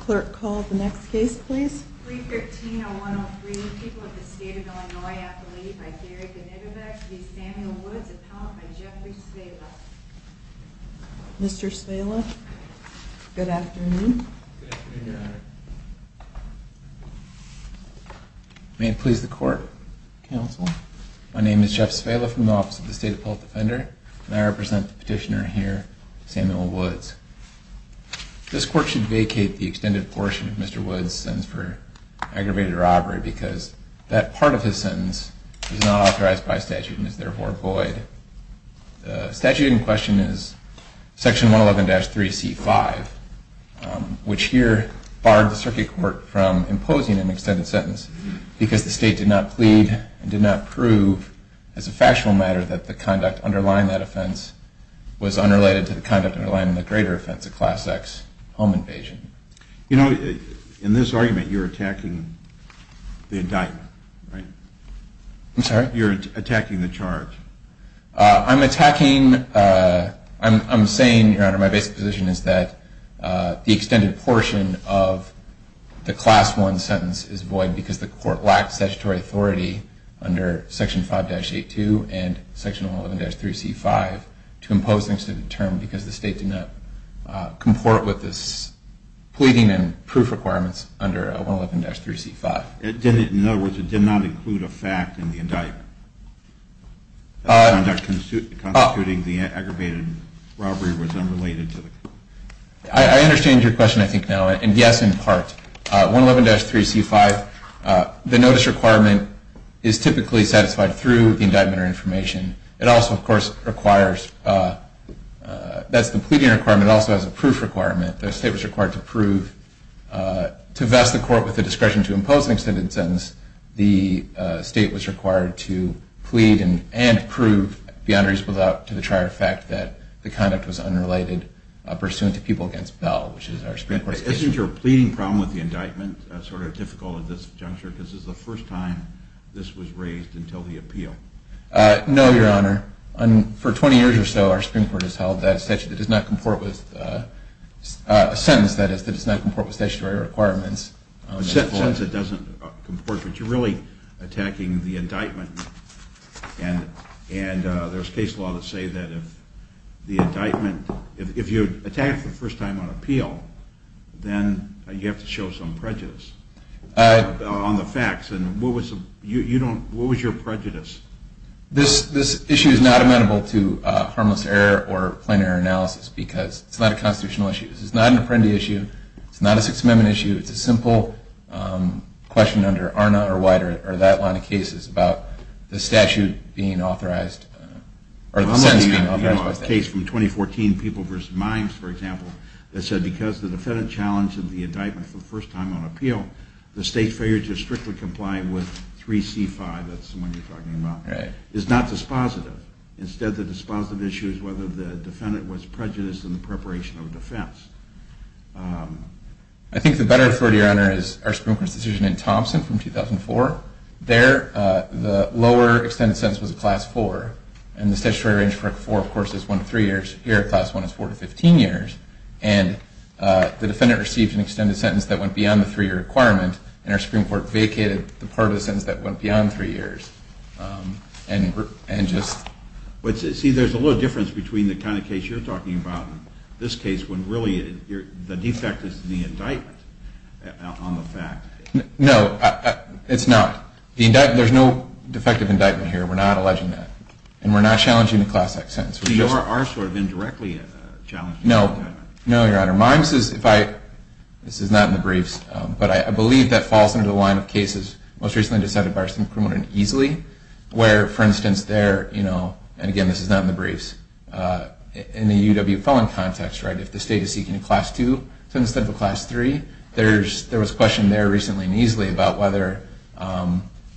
Clerk, call the next case please. 313-0103, People of the State of Illinois, Appellee by Thierry Benitevec v. Samuel Woods, appellant by Jeffrey Svela. Mr. Svela, good afternoon. May it please the Court, Counsel. My name is Jeff Svela from the Office of the State Appellate Defender, and I represent the petitioner here, Samuel Woods. This Court should vacate the extended portion of Mr. Woods' sentence for aggravated robbery because that part of his sentence is not authorized by statute and is therefore void. The statute in question is Section 111-3C5, which here barred the Circuit Court from imposing an extended sentence because the State did not plead and did not prove, as a factual matter, that the conduct underlying that offense was unrelated to the conduct underlying the greater offense of Class X home invasion. You know, in this argument, you're attacking the indictment, right? I'm sorry? You're attacking the charge. I'm attacking, I'm saying, Your Honor, my basic position is that the extended portion of the Class I sentence is void because the Court lacked statutory authority under Section 5-82 and Section 111-3C5 to impose an extended term because the State did not comport with its pleading and proof requirements under 111-3C5. In other words, it did not include a fact in the indictment. The conduct constituting the aggravated robbery was unrelated to the... I understand your question, I think, now, and yes, in part. 111-3C5, the notice requirement is typically satisfied through the indictment or information. It also, of course, requires, that's the pleading requirement, it also has a proof requirement. The State was required to prove, to vest the Court with the discretion to impose an extended sentence. The State was required to plead and prove beyond reasonable doubt to the trier fact that the conduct was unrelated pursuant to people against Bell, which is our Supreme Court's case. Isn't your pleading problem with the indictment sort of difficult at this juncture because this is the first time this was raised until the appeal? No, Your Honor. For 20 years or so, our Supreme Court has held that a sentence that does not comport with statutory requirements... A sentence that doesn't comport, but you're really attacking the indictment and there's case law that say that if the indictment... then you have to show some prejudice on the facts. What was your prejudice? This issue is not amenable to harmless error or plain error analysis because it's not a constitutional issue. This is not an Apprendi issue. It's not a Sixth Amendment issue. It's a simple question under ARNA or that line of cases about the statute being authorized or the sentence being authorized. There's a case from 2014, People v. Mimes, for example, that said because the defendant challenged the indictment for the first time on appeal, the State failed to strictly comply with 3C5. That's the one you're talking about. It's not dispositive. Instead, the dispositive issue is whether the defendant was prejudiced in the preparation of defense. I think the better authority, Your Honor, is our Supreme Court's decision in Thompson from 2004. There, the lower extended sentence was a Class 4, and the statutory range for a 4, of course, is 1-3 years. Here, a Class 1 is 4-15 years, and the defendant received an extended sentence that went beyond the 3-year requirement, and our Supreme Court vacated the part of the sentence that went beyond 3 years. See, there's a little difference between the kind of case you're talking about and this case when really the defect is the indictment on the fact. No, it's not. There's no defective indictment here. We're not alleging that, and we're not challenging the Class X sentence. So yours are sort of indirectly challenging? No, no, Your Honor. Mimes is, if I, this is not in the briefs, but I believe that falls under the line of cases most recently decided by our Supreme Court easily, where, for instance, there, you know, and again, this is not in the briefs, in the UW felon context, right, the state is seeking a Class 2 sentence instead of a Class 3. There was a question there recently in Easley about whether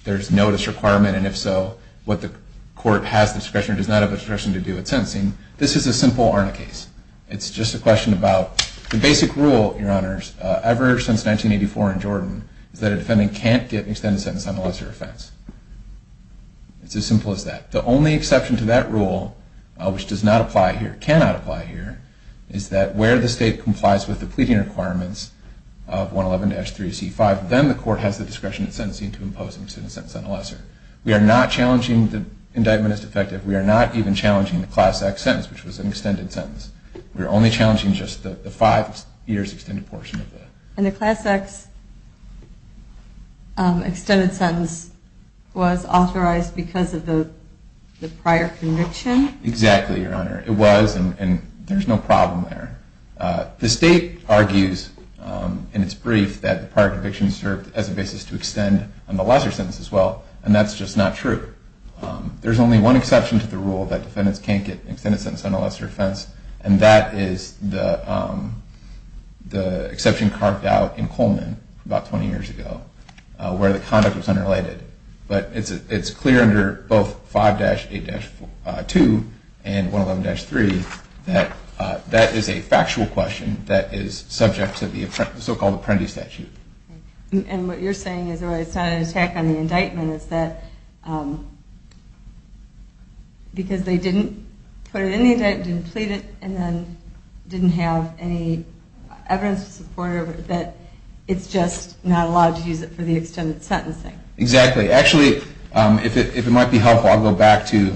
there's no disrequirement, and if so, what the court has discretion or does not have discretion to do with sentencing. This is a simple ARNA case. It's just a question about the basic rule, Your Honors, ever since 1984 in Jordan, is that a defendant can't get an extended sentence on a lesser offense. It's as simple as that. The only exception to that rule, which does not apply here, cannot apply here, is that where the state complies with the pleading requirements of 111-3C5, then the court has the discretion in sentencing to impose an extended sentence on a lesser. We are not challenging the indictment as defective. We are not even challenging the Class X sentence, which was an extended sentence. We are only challenging just the five years extended portion of that. And the Class X extended sentence was authorized because of the prior conviction? Exactly, Your Honor. It was, and there's no problem there. The state argues in its brief that the prior conviction served as a basis to extend on the lesser sentence as well, and that's just not true. There's only one exception to the rule that defendants can't get an extended sentence on a lesser offense, and that is the exception carved out in Coleman about 20 years ago, where the conduct was unrelated. But it's clear under both 5-8-2 and 111-3 that that is a factual question that is subject to the so-called apprentice statute. And what you're saying is it's not an attack on the indictment, and what you're saying is that because they didn't put it in the indictment, didn't plead it, and then didn't have any evidence to support it, that it's just not allowed to use it for the extended sentencing. Exactly. Actually, if it might be helpful, I'll go back to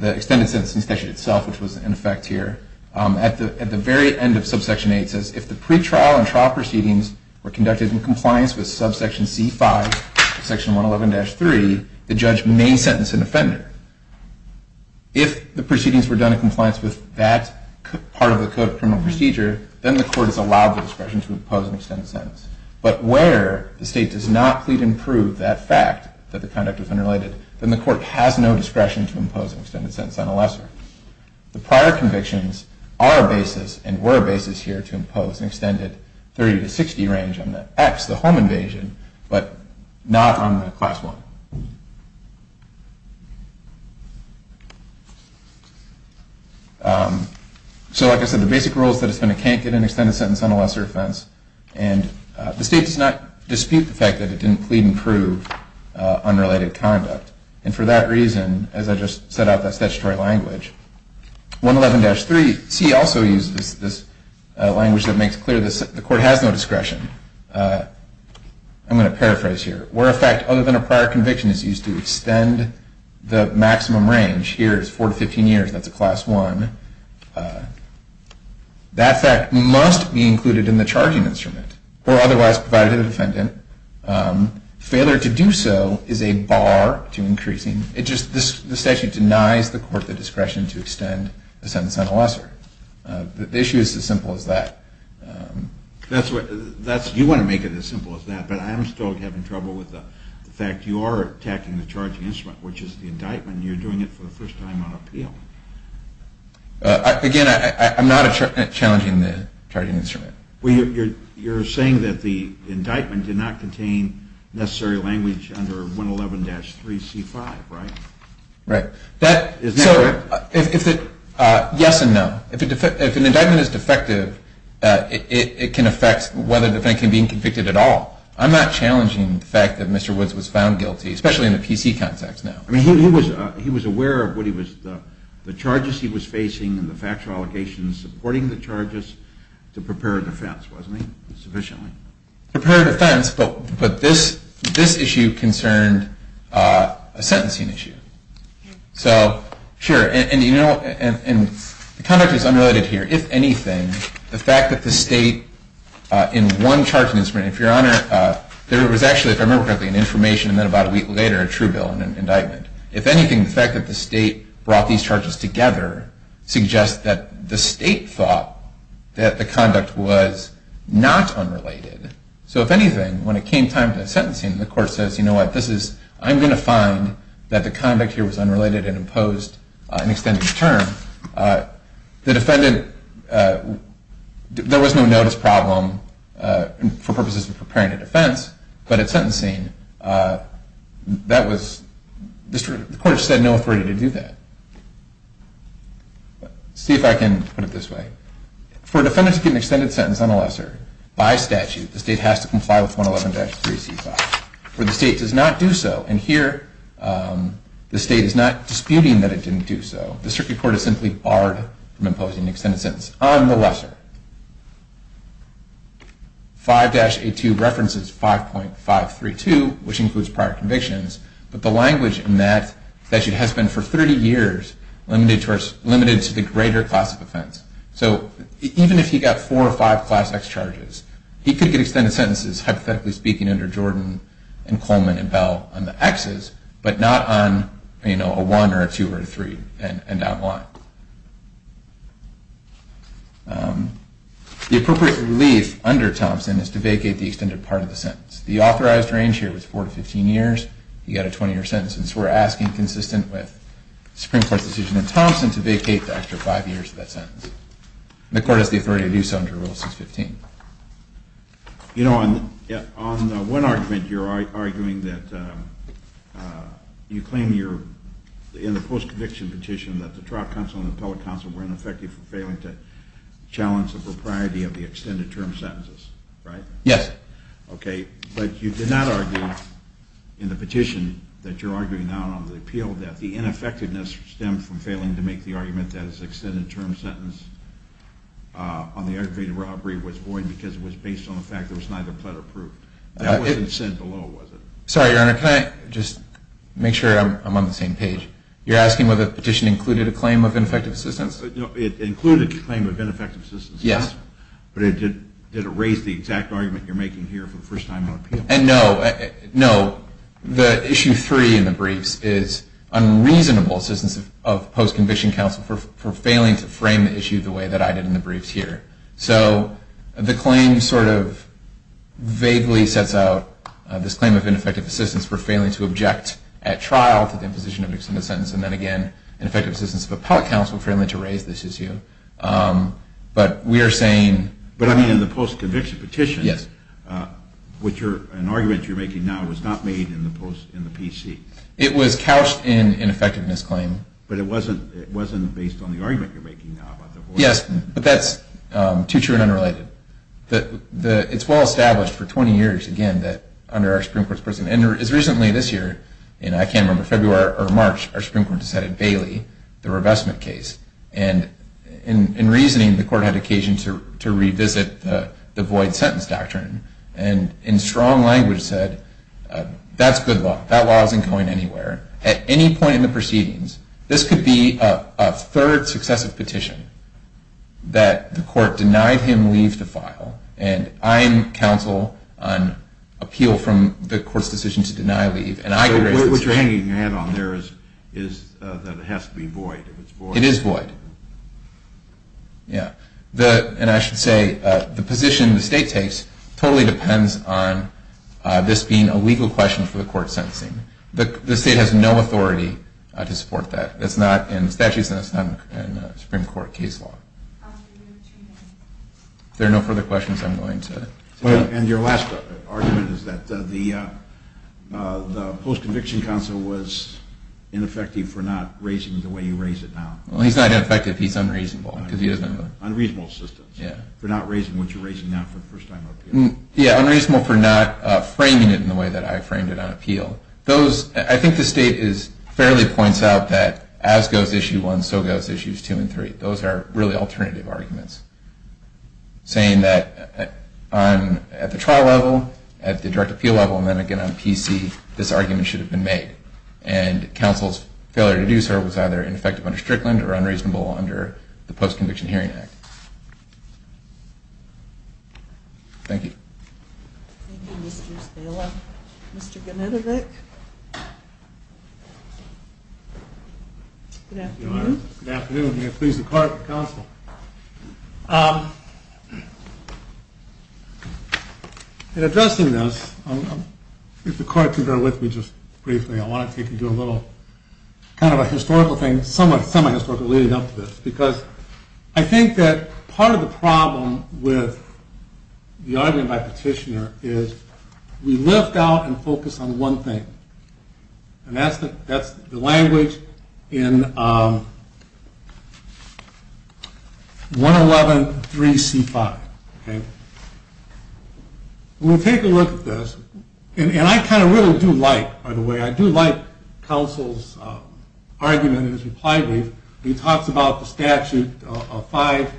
the extended sentencing statute itself, which was in effect here. At the very end of subsection 8, it says, if the pretrial and trial proceedings were conducted in compliance with subsection C5 of section 111-3, the judge may sentence an offender. If the proceedings were done in compliance with that part of the Code of Criminal Procedure, then the court is allowed the discretion to impose an extended sentence. But where the state does not plead and prove that fact that the conduct was unrelated, then the court has no discretion to impose an extended sentence on a lesser. The prior convictions are a basis and were a basis here to impose an extended 30 to 60 range on the X, the home invasion, but not on the class 1. So like I said, the basic rule is that it's going to can't get an extended sentence on a lesser offense, and the state does not dispute the fact that it didn't plead and prove unrelated conduct. And for that reason, as I just set out that statutory language, 111-3C also uses this language that makes clear the court has no discretion. I'm going to paraphrase here. Where a fact other than a prior conviction is used to extend the maximum range, here it's 4 to 15 years, that's a class 1, that fact must be included in the charging instrument or otherwise provided to the defendant. Failure to do so is a bar to increasing. The statute denies the court the discretion to extend a sentence on a lesser. The issue is as simple as that. You want to make it as simple as that, but I'm still having trouble with the fact you are attacking the charging instrument, which is the indictment, and you're doing it for the first time on appeal. Again, I'm not challenging the charging instrument. Well, you're saying that the indictment did not contain necessary language under 111-3C5, right? Right. Isn't that correct? Yes and no. If an indictment is defective, it can affect whether the defendant can be convicted at all. I'm not challenging the fact that Mr. Woods was found guilty, especially in the PC context now. I mean, he was aware of the charges he was facing and the factual allegations supporting the charges to prepare a defense, wasn't he, sufficiently? Prepare a defense, but this issue concerned a sentencing issue. So, sure, and the conduct is unrelated here. If anything, the fact that the state in one charging instrument, if Your Honor, there was actually, if I remember correctly, an information and then about a week later a true bill and an indictment. If anything, the fact that the state brought these charges together suggests that the state thought that the conduct was not unrelated. So, if anything, when it came time to sentencing, the court says, you know what, I'm going to find that the conduct here was unrelated and imposed an extended term. The defendant, there was no notice problem for purposes of preparing a defense, but at sentencing, the court said no authority to do that. See if I can put it this way. For a defendant to get an extended sentence on a lesser by statute, the state has to comply with 111-3C5. If the state does not do so, and here the state is not disputing that it didn't do so, the circuit court is simply barred from imposing an extended sentence on the lesser. 5-82 references 5.532, which includes prior convictions, but the language in that statute has been for 30 years limited to the greater class of offense. So, even if he got four or five class X charges, he could get extended sentences, hypothetically speaking, under Jordan and Coleman and Bell on the Xs, but not on a one or a two or a three and not one. The appropriate relief under Thompson is to vacate the extended part of the sentence. The authorized range here was four to 15 years. He got a 20-year sentence, and so we're asking, consistent with the Supreme Court's decision in Thompson, to vacate the extra five years of that sentence. The court has the authority to do so under Rule 615. You know, on one argument, you're arguing that you claim in the post-conviction petition that the trial counsel and the appellate counsel were ineffective for failing to challenge the propriety of the extended term sentences, right? Yes. Okay, but you did not argue in the petition that you're arguing now on the appeal that the ineffectiveness stemmed from failing to make the argument that his extended term sentence on the aggravated robbery was void because it was based on the fact that it was neither pled or proof. That wasn't said below, was it? Sorry, Your Honor, can I just make sure I'm on the same page? You're asking whether the petition included a claim of ineffective assistance? No, it included a claim of ineffective assistance, yes, but did it raise the exact argument you're making here for the first time on appeal? And no, no. So the issue 3 in the briefs is unreasonable assistance of post-conviction counsel for failing to frame the issue the way that I did in the briefs here. So the claim sort of vaguely sets out this claim of ineffective assistance for failing to object at trial to the imposition of an extended sentence, and then again, ineffective assistance of appellate counsel for failing to raise this issue. But we are saying— But, I mean, in the post-conviction petition, an argument you're making now was not made in the PC. It was couched in an effectiveness claim. But it wasn't based on the argument you're making now about the void. Yes, but that's too true and unrelated. It's well established for 20 years, again, that under our Supreme Court's position, and as recently this year, and I can't remember, February or March, our Supreme Court decided Bailey, the revestment case, and in reasoning, the court had occasion to revisit the void sentence doctrine and in strong language said, that's good law. That law isn't going anywhere. At any point in the proceedings, this could be a third successive petition that the court denied him leave to file, and I am counsel on appeal from the court's decision to deny leave, and I can raise this issue. What you're hanging your hand on there is that it has to be void. It is void. And I should say, the position the state takes totally depends on this being a legal question for the court sentencing. The state has no authority to support that. It's not in statutes and it's not in Supreme Court case law. If there are no further questions, I'm going to... And your last argument is that the post-conviction counsel was ineffective for not raising the way you raise it now. Well, he's not ineffective, he's unreasonable. Unreasonable assistance for not raising what you're raising now for the first time on appeal. Yeah, unreasonable for not framing it in the way that I framed it on appeal. I think the state fairly points out that as goes issue one, so goes issues two and three. Those are really alternative arguments, saying that at the trial level, at the direct appeal level, and then again on PC, this argument should have been made. And counsel's failure to do so was either ineffective under Strickland or unreasonable under the Post-Conviction Hearing Act. Thank you. Thank you, Mr. Estella. Mr. Genetovic? Good afternoon. Good afternoon. May it please the court and counsel. In addressing this, if the court can bear with me just briefly, I want to take and do a little kind of a historical thing, somewhat semi-historical leading up to this. Because I think that part of the problem with the argument by Petitioner is we lift out and focus on one thing. And that's the language in 111.3.C.5. Okay? We'll take a look at this. And I kind of really do like, by the way, I do like counsel's argument in his reply brief. He talks about the statute of 58-2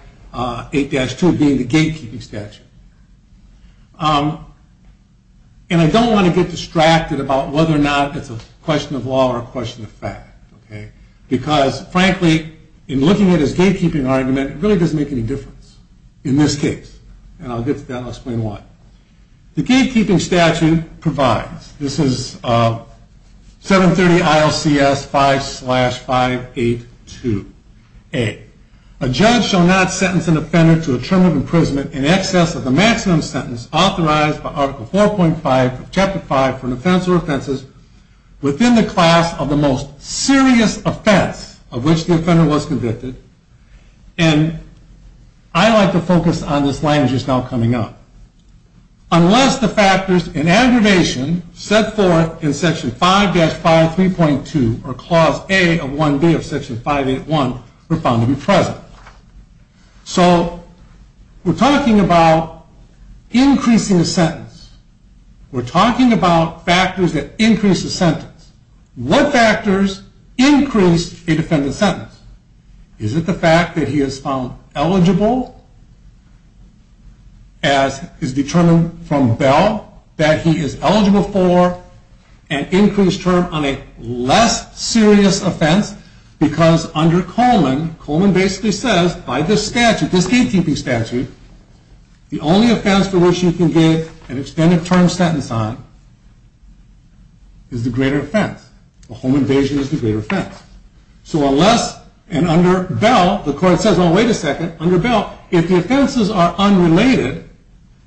being the gatekeeping statute. And I don't want to get distracted about whether or not it's a question of law or a question of fact, okay? Because, frankly, in looking at his gatekeeping argument, it really doesn't make any difference in this case. And I'll get to that and I'll explain why. The gatekeeping statute provides, this is 730 ILCS 5-582A, a judge shall not sentence an offender to a term of imprisonment in excess of the maximum sentence authorized by Article 4.5 of Chapter 5 for an offense or offenses within the class of the most serious offense of which the offender was convicted. And I like to focus on this language that's now coming up. Unless the factors in aggravation set forth in Section 5-53.2 or Clause A of 1B of Section 581 were found to be present. So we're talking about increasing a sentence. We're talking about factors that increase a sentence. What factors increase a defendant's sentence? Is it the fact that he is found eligible as is determined from Bell that he is eligible for an increased term on a less serious offense? Because under Coleman, Coleman basically says, by this statute, this gatekeeping statute, the only offense for which you can give an extended term sentence on is the greater offense. A home invasion is the greater offense. So unless, and under Bell, the court says, oh, wait a second, under Bell, if the offenses are unrelated,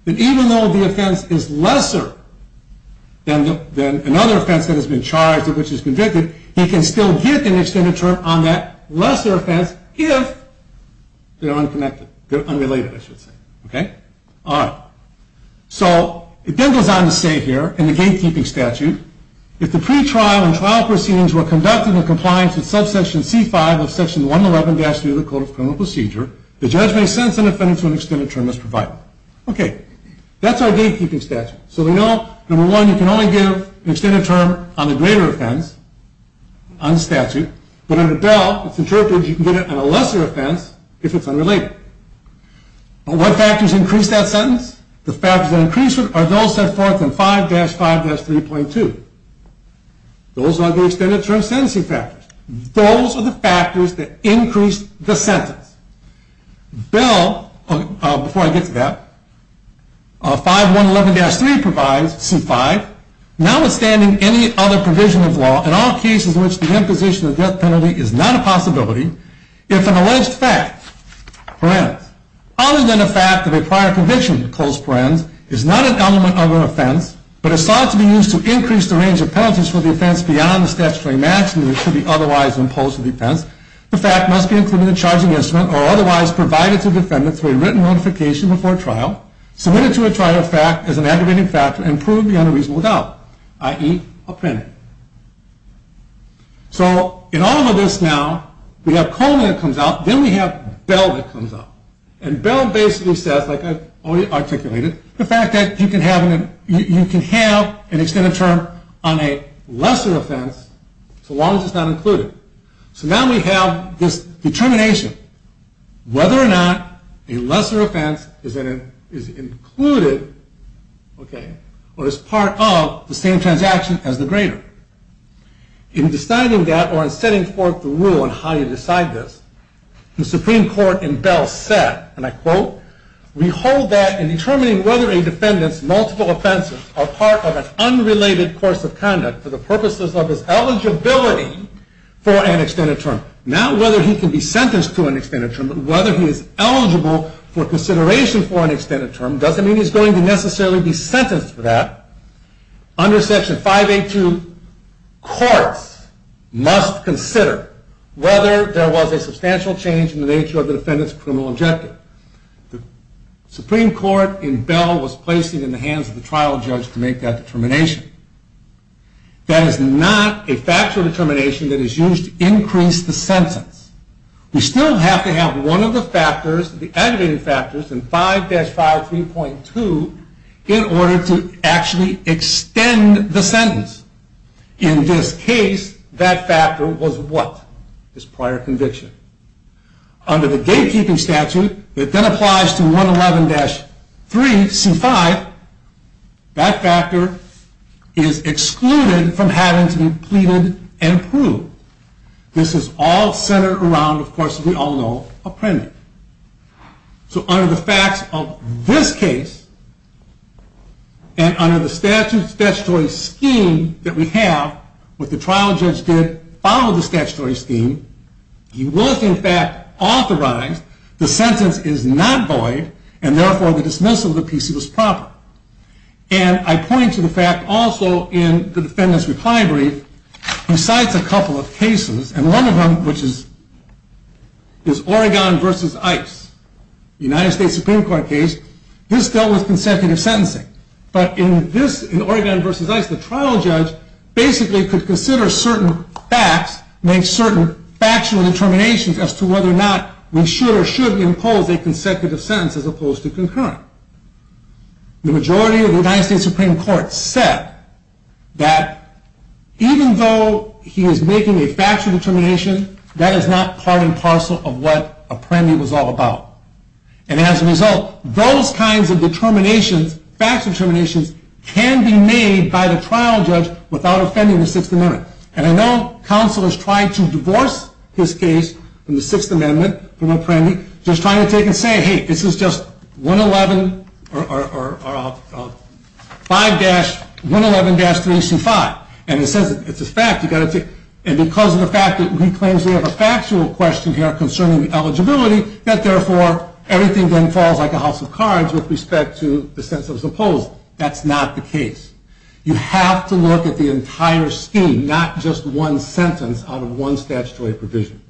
then even though the offense is lesser than another offense that has been charged of which is convicted, he can still get an extended term on that lesser offense if they're unrelated. So it then goes on to say here in the gatekeeping statute, if the pretrial and trial proceedings were conducted in compliance with subsection C-5 of Section 111-3 of the Code of Criminal Procedure, the judge may sentence an offender to an extended term as provided. Okay, that's our gatekeeping statute. So we know, number one, you can only give an extended term on the greater offense on the statute. But under Bell, it's interpreted you can get it on a lesser offense if it's unrelated. But what factors increase that sentence? The factors that increase it are those set forth in 5-5-3.2. Those are the extended term sentencing factors. Those are the factors that increase the sentence. Bell, before I get to that, 5-1-11-3 provides C-5, notwithstanding any other provision of law, in all cases in which the imposition of death penalty is not a possibility, if an alleged fact, parens, other than a fact of a prior conviction, close parens, is not an element of an offense, but is thought to be used to increase the range of penalties for the offense beyond the statutory maximum that should be otherwise imposed on the offense. The fact must be included in the charging instrument or otherwise provided to the defendant through a written notification before trial, submitted to a trial as an aggravating factor, and proved beyond a reasonable doubt, i.e., a pen. So in all of this now, we have Coleman that comes out, then we have Bell that comes up. And Bell basically says, like I've already articulated, the fact that you can have an extended term on a lesser offense so long as it's not included. So now we have this determination whether or not a lesser offense is included or is part of the same transaction as the greater. In deciding that or in setting forth the rule on how you decide this, the Supreme Court in Bell said, and I quote, we hold that in determining whether a defendant's multiple offenses are part of an unrelated course of conduct for the purposes of his eligibility for an extended term. Not whether he can be sentenced to an extended term, but whether he is eligible for consideration for an extended term doesn't mean he's going to necessarily be sentenced for that. Under Section 582, courts must consider whether there was a substantial change in the nature of the defendant's criminal objective. The Supreme Court in Bell was placing it in the hands of the trial judge to make that determination. That is not a factual determination that is used to increase the sentence. We still have to have one of the factors, the aggravated factors in 5-53.2, in order to actually extend the sentence. In this case, that factor was what? This prior conviction. Under the gatekeeping statute, it then applies to 111-3C5. That factor is excluded from having to be pleaded and proved. This is all centered around, of course, as we all know, a premed. So under the facts of this case, and under the statutory scheme that we have, what the trial judge did followed the statutory scheme. He was, in fact, authorized. The sentence is not void, and therefore the dismissal of the PC was proper. And I point to the fact also in the defendant's reply brief, besides a couple of cases, and one of them, which is Oregon v. Ice, the United States Supreme Court case, this dealt with consecutive sentencing. But in this, in Oregon v. Ice, the trial judge basically could consider certain facts, make certain factual determinations as to whether or not we should or should impose a consecutive sentence as opposed to concurrent. The majority of the United States Supreme Court said that even though he is making a factual determination, that is not part and parcel of what a premed was all about. And as a result, those kinds of determinations, facts determinations, can be made by the trial judge without offending the Sixth Amendment. And I know counsel is trying to divorce his case from the Sixth Amendment, from Apprendi, just trying to take and say, hey, this is just 111-3C5. And it says it's a fact. And because of the fact that he claims we have a factual question here concerning eligibility, that therefore everything then falls like a house of cards with respect to the sentence that was imposed. That's not the case. You have to look at the entire scheme, not just one sentence out of one statutory provision.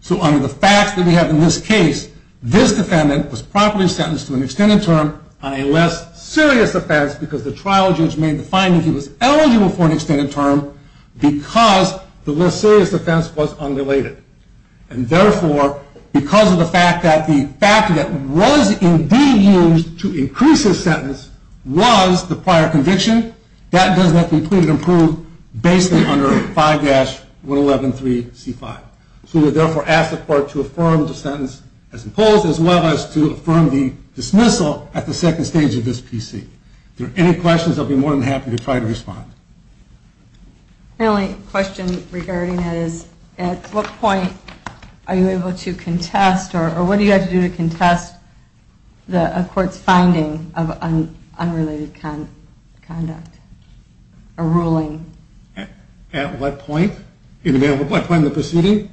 So under the facts that we have in this case, this defendant was promptly sentenced to an extended term on a less serious offense because the trial judge made the finding he was eligible for an extended term because the less serious offense was unrelated. And therefore, because of the fact that the factor that was indeed used to increase his sentence was the prior conviction, that does not conclude and prove basically under 5-111-3C5. So we therefore ask the court to affirm the sentence as imposed, as well as to affirm the dismissal at the second stage of this PC. If there are any questions, I'll be more than happy to try to respond. My only question regarding it is at what point are you able to contest or what do you have to do to contest a court's finding of unrelated conduct or ruling? At what point? At what point in the proceeding?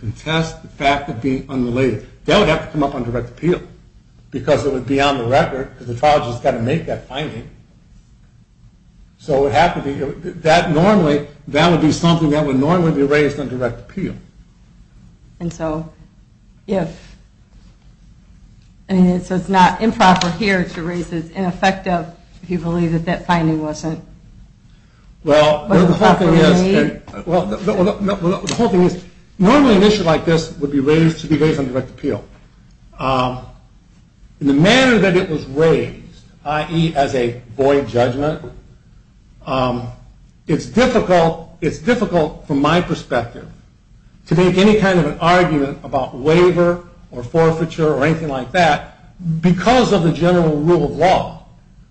Contest the fact of being unrelated. That would have to come up on direct appeal because it would be on the record because the trial judge has got to make that finding. So it would have to be, that normally, that would be something that would normally be raised on direct appeal. And so if, I mean, so it's not improper here to raise it as ineffective if you believe that that finding wasn't? Well, the whole thing is, normally an issue like this would be raised to be raised on direct appeal. The manner that it was raised, i.e. as a void judgment, it's difficult from my perspective to make any kind of an argument about waiver or forfeiture or anything like that because of the general rule of law,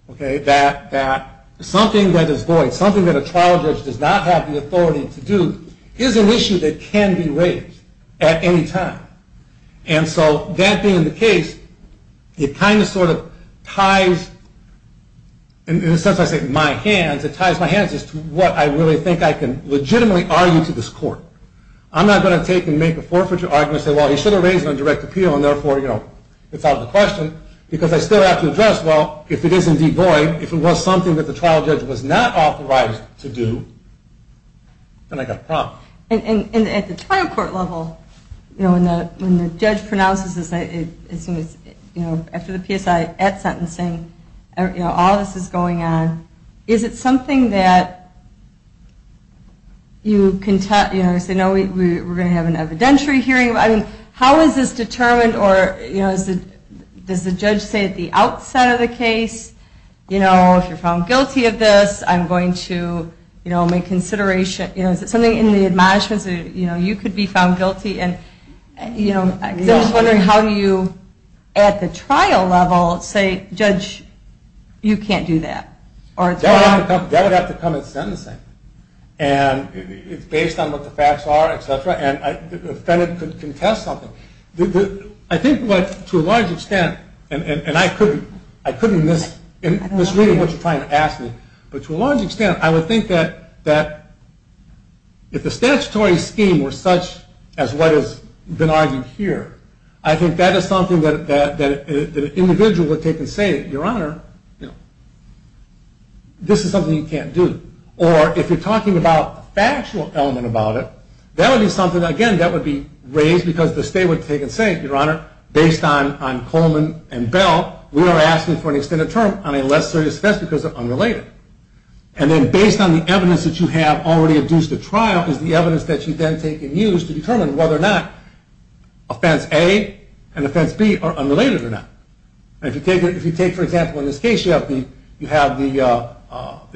that something that is void, something that a trial judge does not have the authority to do, is an issue that can be raised at any time. And so that being the case, it kind of sort of ties, in a sense I say my hands, it ties my hands as to what I really think I can legitimately argue to this court. I'm not going to take and make a forfeiture argument and say, well, he should have raised it on direct appeal and therefore, you know, it's out of the question because I still have to address, well, if it is indeed void, if it was something that the trial judge was not authorized to do, then I've got a problem. And at the trial court level, you know, when the judge pronounces this, as soon as, you know, after the PSI, at sentencing, you know, all this is going on, is it something that you can tell, you know, we're going to have an evidentiary hearing, how is this determined or, you know, does the judge say at the outset of the case, you know, if you're found guilty of this, I'm going to, you know, make consideration, you know, is it something in the admonishments, you know, you could be found guilty and, you know, because I'm just wondering how you at the trial level say, judge, you can't do that. That would have to come at sentencing. And it's based on what the facts are, et cetera, and the defendant could contest something. I think to a large extent, and I couldn't miss really what you're trying to ask me, but to a large extent, I would think that if the statutory scheme were such as what has been argued here, I think that is something that an individual would take and say, your honor, you know, this is something you can't do. Or if you're talking about the factual element about it, that would be something, again, that would be raised because the state would take and say, your honor, based on Coleman and Bell, we are asking for an extended term on a less serious offense because they're unrelated. And then based on the evidence that you have already induced at trial is the evidence that you then take and use to determine whether or not offense A and offense B are unrelated or not. And if you take, for example, in this case, you have the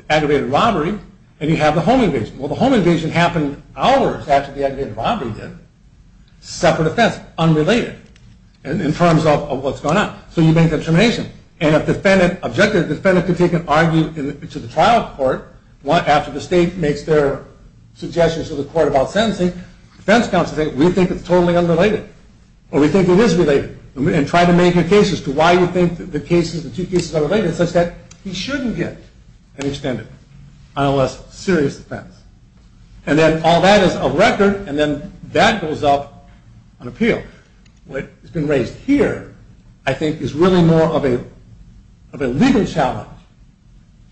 aggravated robbery and you have the home invasion. Well, the home invasion happened hours after the aggravated robbery did. Separate offense, unrelated in terms of what's going on. So you make that determination. And if the defendant objected, the defendant could take and argue to the trial court after the state makes their suggestions to the court about sentencing. Defense counsel say, we think it's totally unrelated. Or we think it is related. And try to make your case as to why you think the two cases are related such that he shouldn't get an extended on a less serious offense. And then all that is of record, and then that goes up on appeal. What has been raised here, I think, is really more of a legal challenge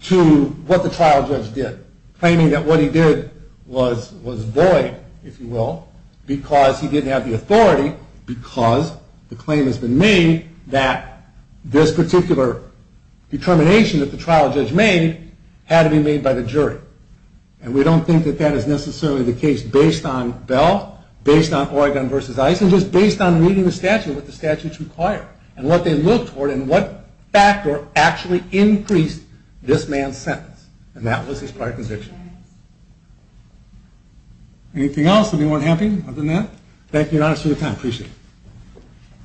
to what the trial judge did. Claiming that what he did was void, if you will, because he didn't have the authority because the claim has been made that this particular determination that the trial judge made had to be made by the jury. And we don't think that that is necessarily the case based on Bell, based on Oregon v. Eisen, just based on reading the statute, what the statutes require, and what they look for, and what factor actually increased this man's sentence. And that was his prior conviction. Anything else? Anyone happy other than that? Thank you, Your Honor, for your time. I appreciate it.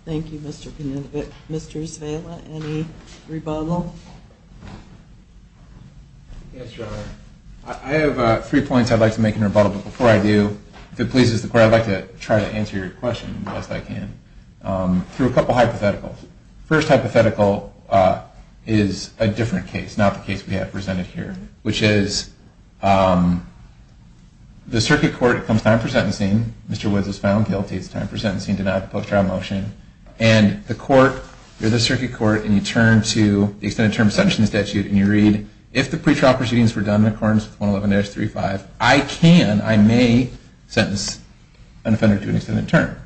Thank you, Mr. Coninovic. Mr. Izvela, any rebuttal? Yes, Your Honor. I have three points I'd like to make in rebuttal. But before I do, if it pleases the Court, I'd like to try to answer your question the best I can through a couple hypotheticals. First hypothetical is a different case, not the case we have presented here, which is the circuit court comes time for sentencing. Mr. Woods was found guilty. It's time for sentencing. Denied the post-trial motion. And the court, you're the circuit court, and you turn to the extended term of sentencing statute, and you read, if the pretrial proceedings were done in accordance with 111-35, I can, I may, sentence an offender to an extended term.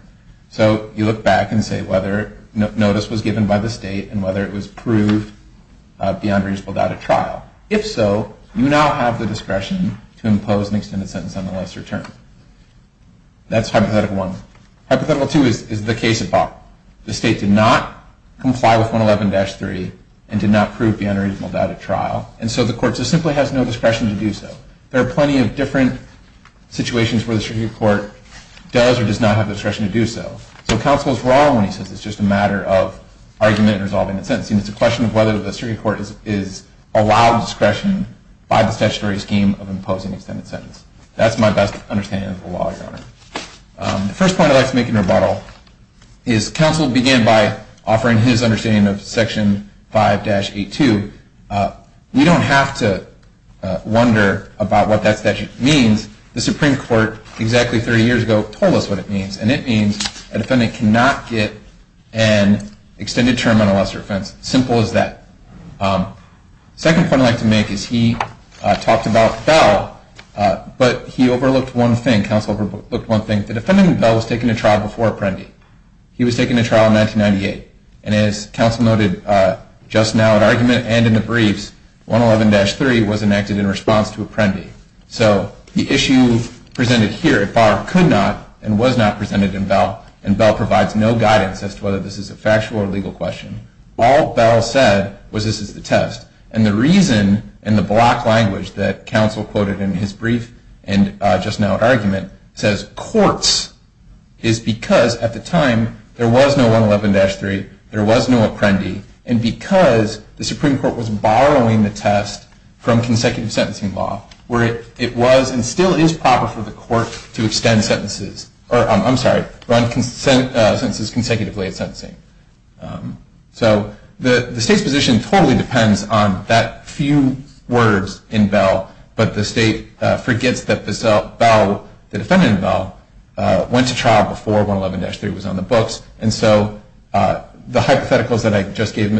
So you look back and say whether notice was given by the state and whether it was proved beyond a reasonable doubt at trial. If so, you now have the discretion to impose an extended sentence on the lesser term. That's hypothetical one. Hypothetical two is the case above. The state did not comply with 111-3 and did not prove beyond a reasonable doubt at trial. And so the court just simply has no discretion to do so. There are plenty of different situations where the circuit court does or does not have the discretion to do so. So counsel is wrong when he says it's just a matter of argument and resolving the sentencing. It's a question of whether the circuit court is allowed discretion by the statutory scheme of imposing extended sentence. That's my best understanding of the law, Your Honor. The first point I'd like to make in rebuttal is counsel began by offering his understanding of Section 5-82. We don't have to wonder about what that statute means. The Supreme Court exactly 30 years ago told us what it means, and it means a defendant cannot get an extended term on a lesser offense. Simple as that. The second point I'd like to make is he talked about Bell, but he overlooked one thing. Counsel overlooked one thing. The defendant in Bell was taken to trial before Apprendi. He was taken to trial in 1998. And as counsel noted just now at argument and in the briefs, 111-3 was enacted in response to Apprendi. So the issue presented here at bar could not and was not presented in Bell, and Bell provides no guidance as to whether this is a factual or legal question. All Bell said was this is the test. And the reason in the block language that counsel quoted in his brief and just now at argument, says courts, is because at the time there was no 111-3, there was no Apprendi, and because the Supreme Court was borrowing the test from consecutive sentencing law, where it was and still is proper for the court to extend sentences, or I'm sorry, run sentences consecutively at sentencing. So the state's position totally depends on that few words in Bell, but the state forgets that Bell, the defendant in Bell, went to trial before 111-3 was on the books. And so the hypotheticals that I just gave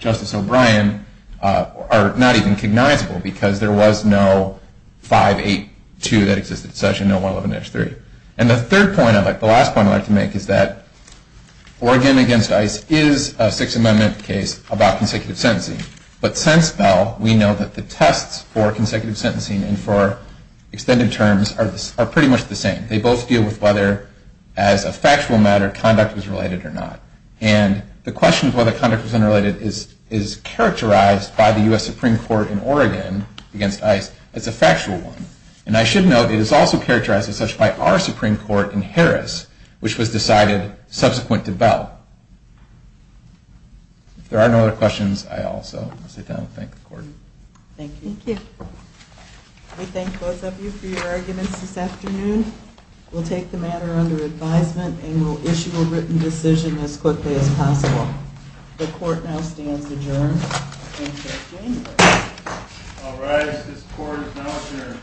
Justice O'Brien are not even cognizable because there was no 582 that existed. It's actually no 111-3. And the third point, the last point I'd like to make is that Oregon against ICE is a Sixth Amendment case about consecutive sentencing. But since Bell, we know that the tests for consecutive sentencing and for extended terms are pretty much the same. They both deal with whether, as a factual matter, conduct was related or not. And the question of whether conduct was unrelated is characterized by the U.S. Supreme Court in Oregon against ICE as a factual one. And I should note it is also characterized as such by our Supreme Court in Harris, which was decided subsequent to Bell. If there are no other questions, I also sit down and thank the court. Thank you. Thank you. We thank both of you for your arguments this afternoon. We'll take the matter under advisement and we'll issue a written decision as quickly as possible. The court now stands adjourned until January. All rise. This court is now adjourned.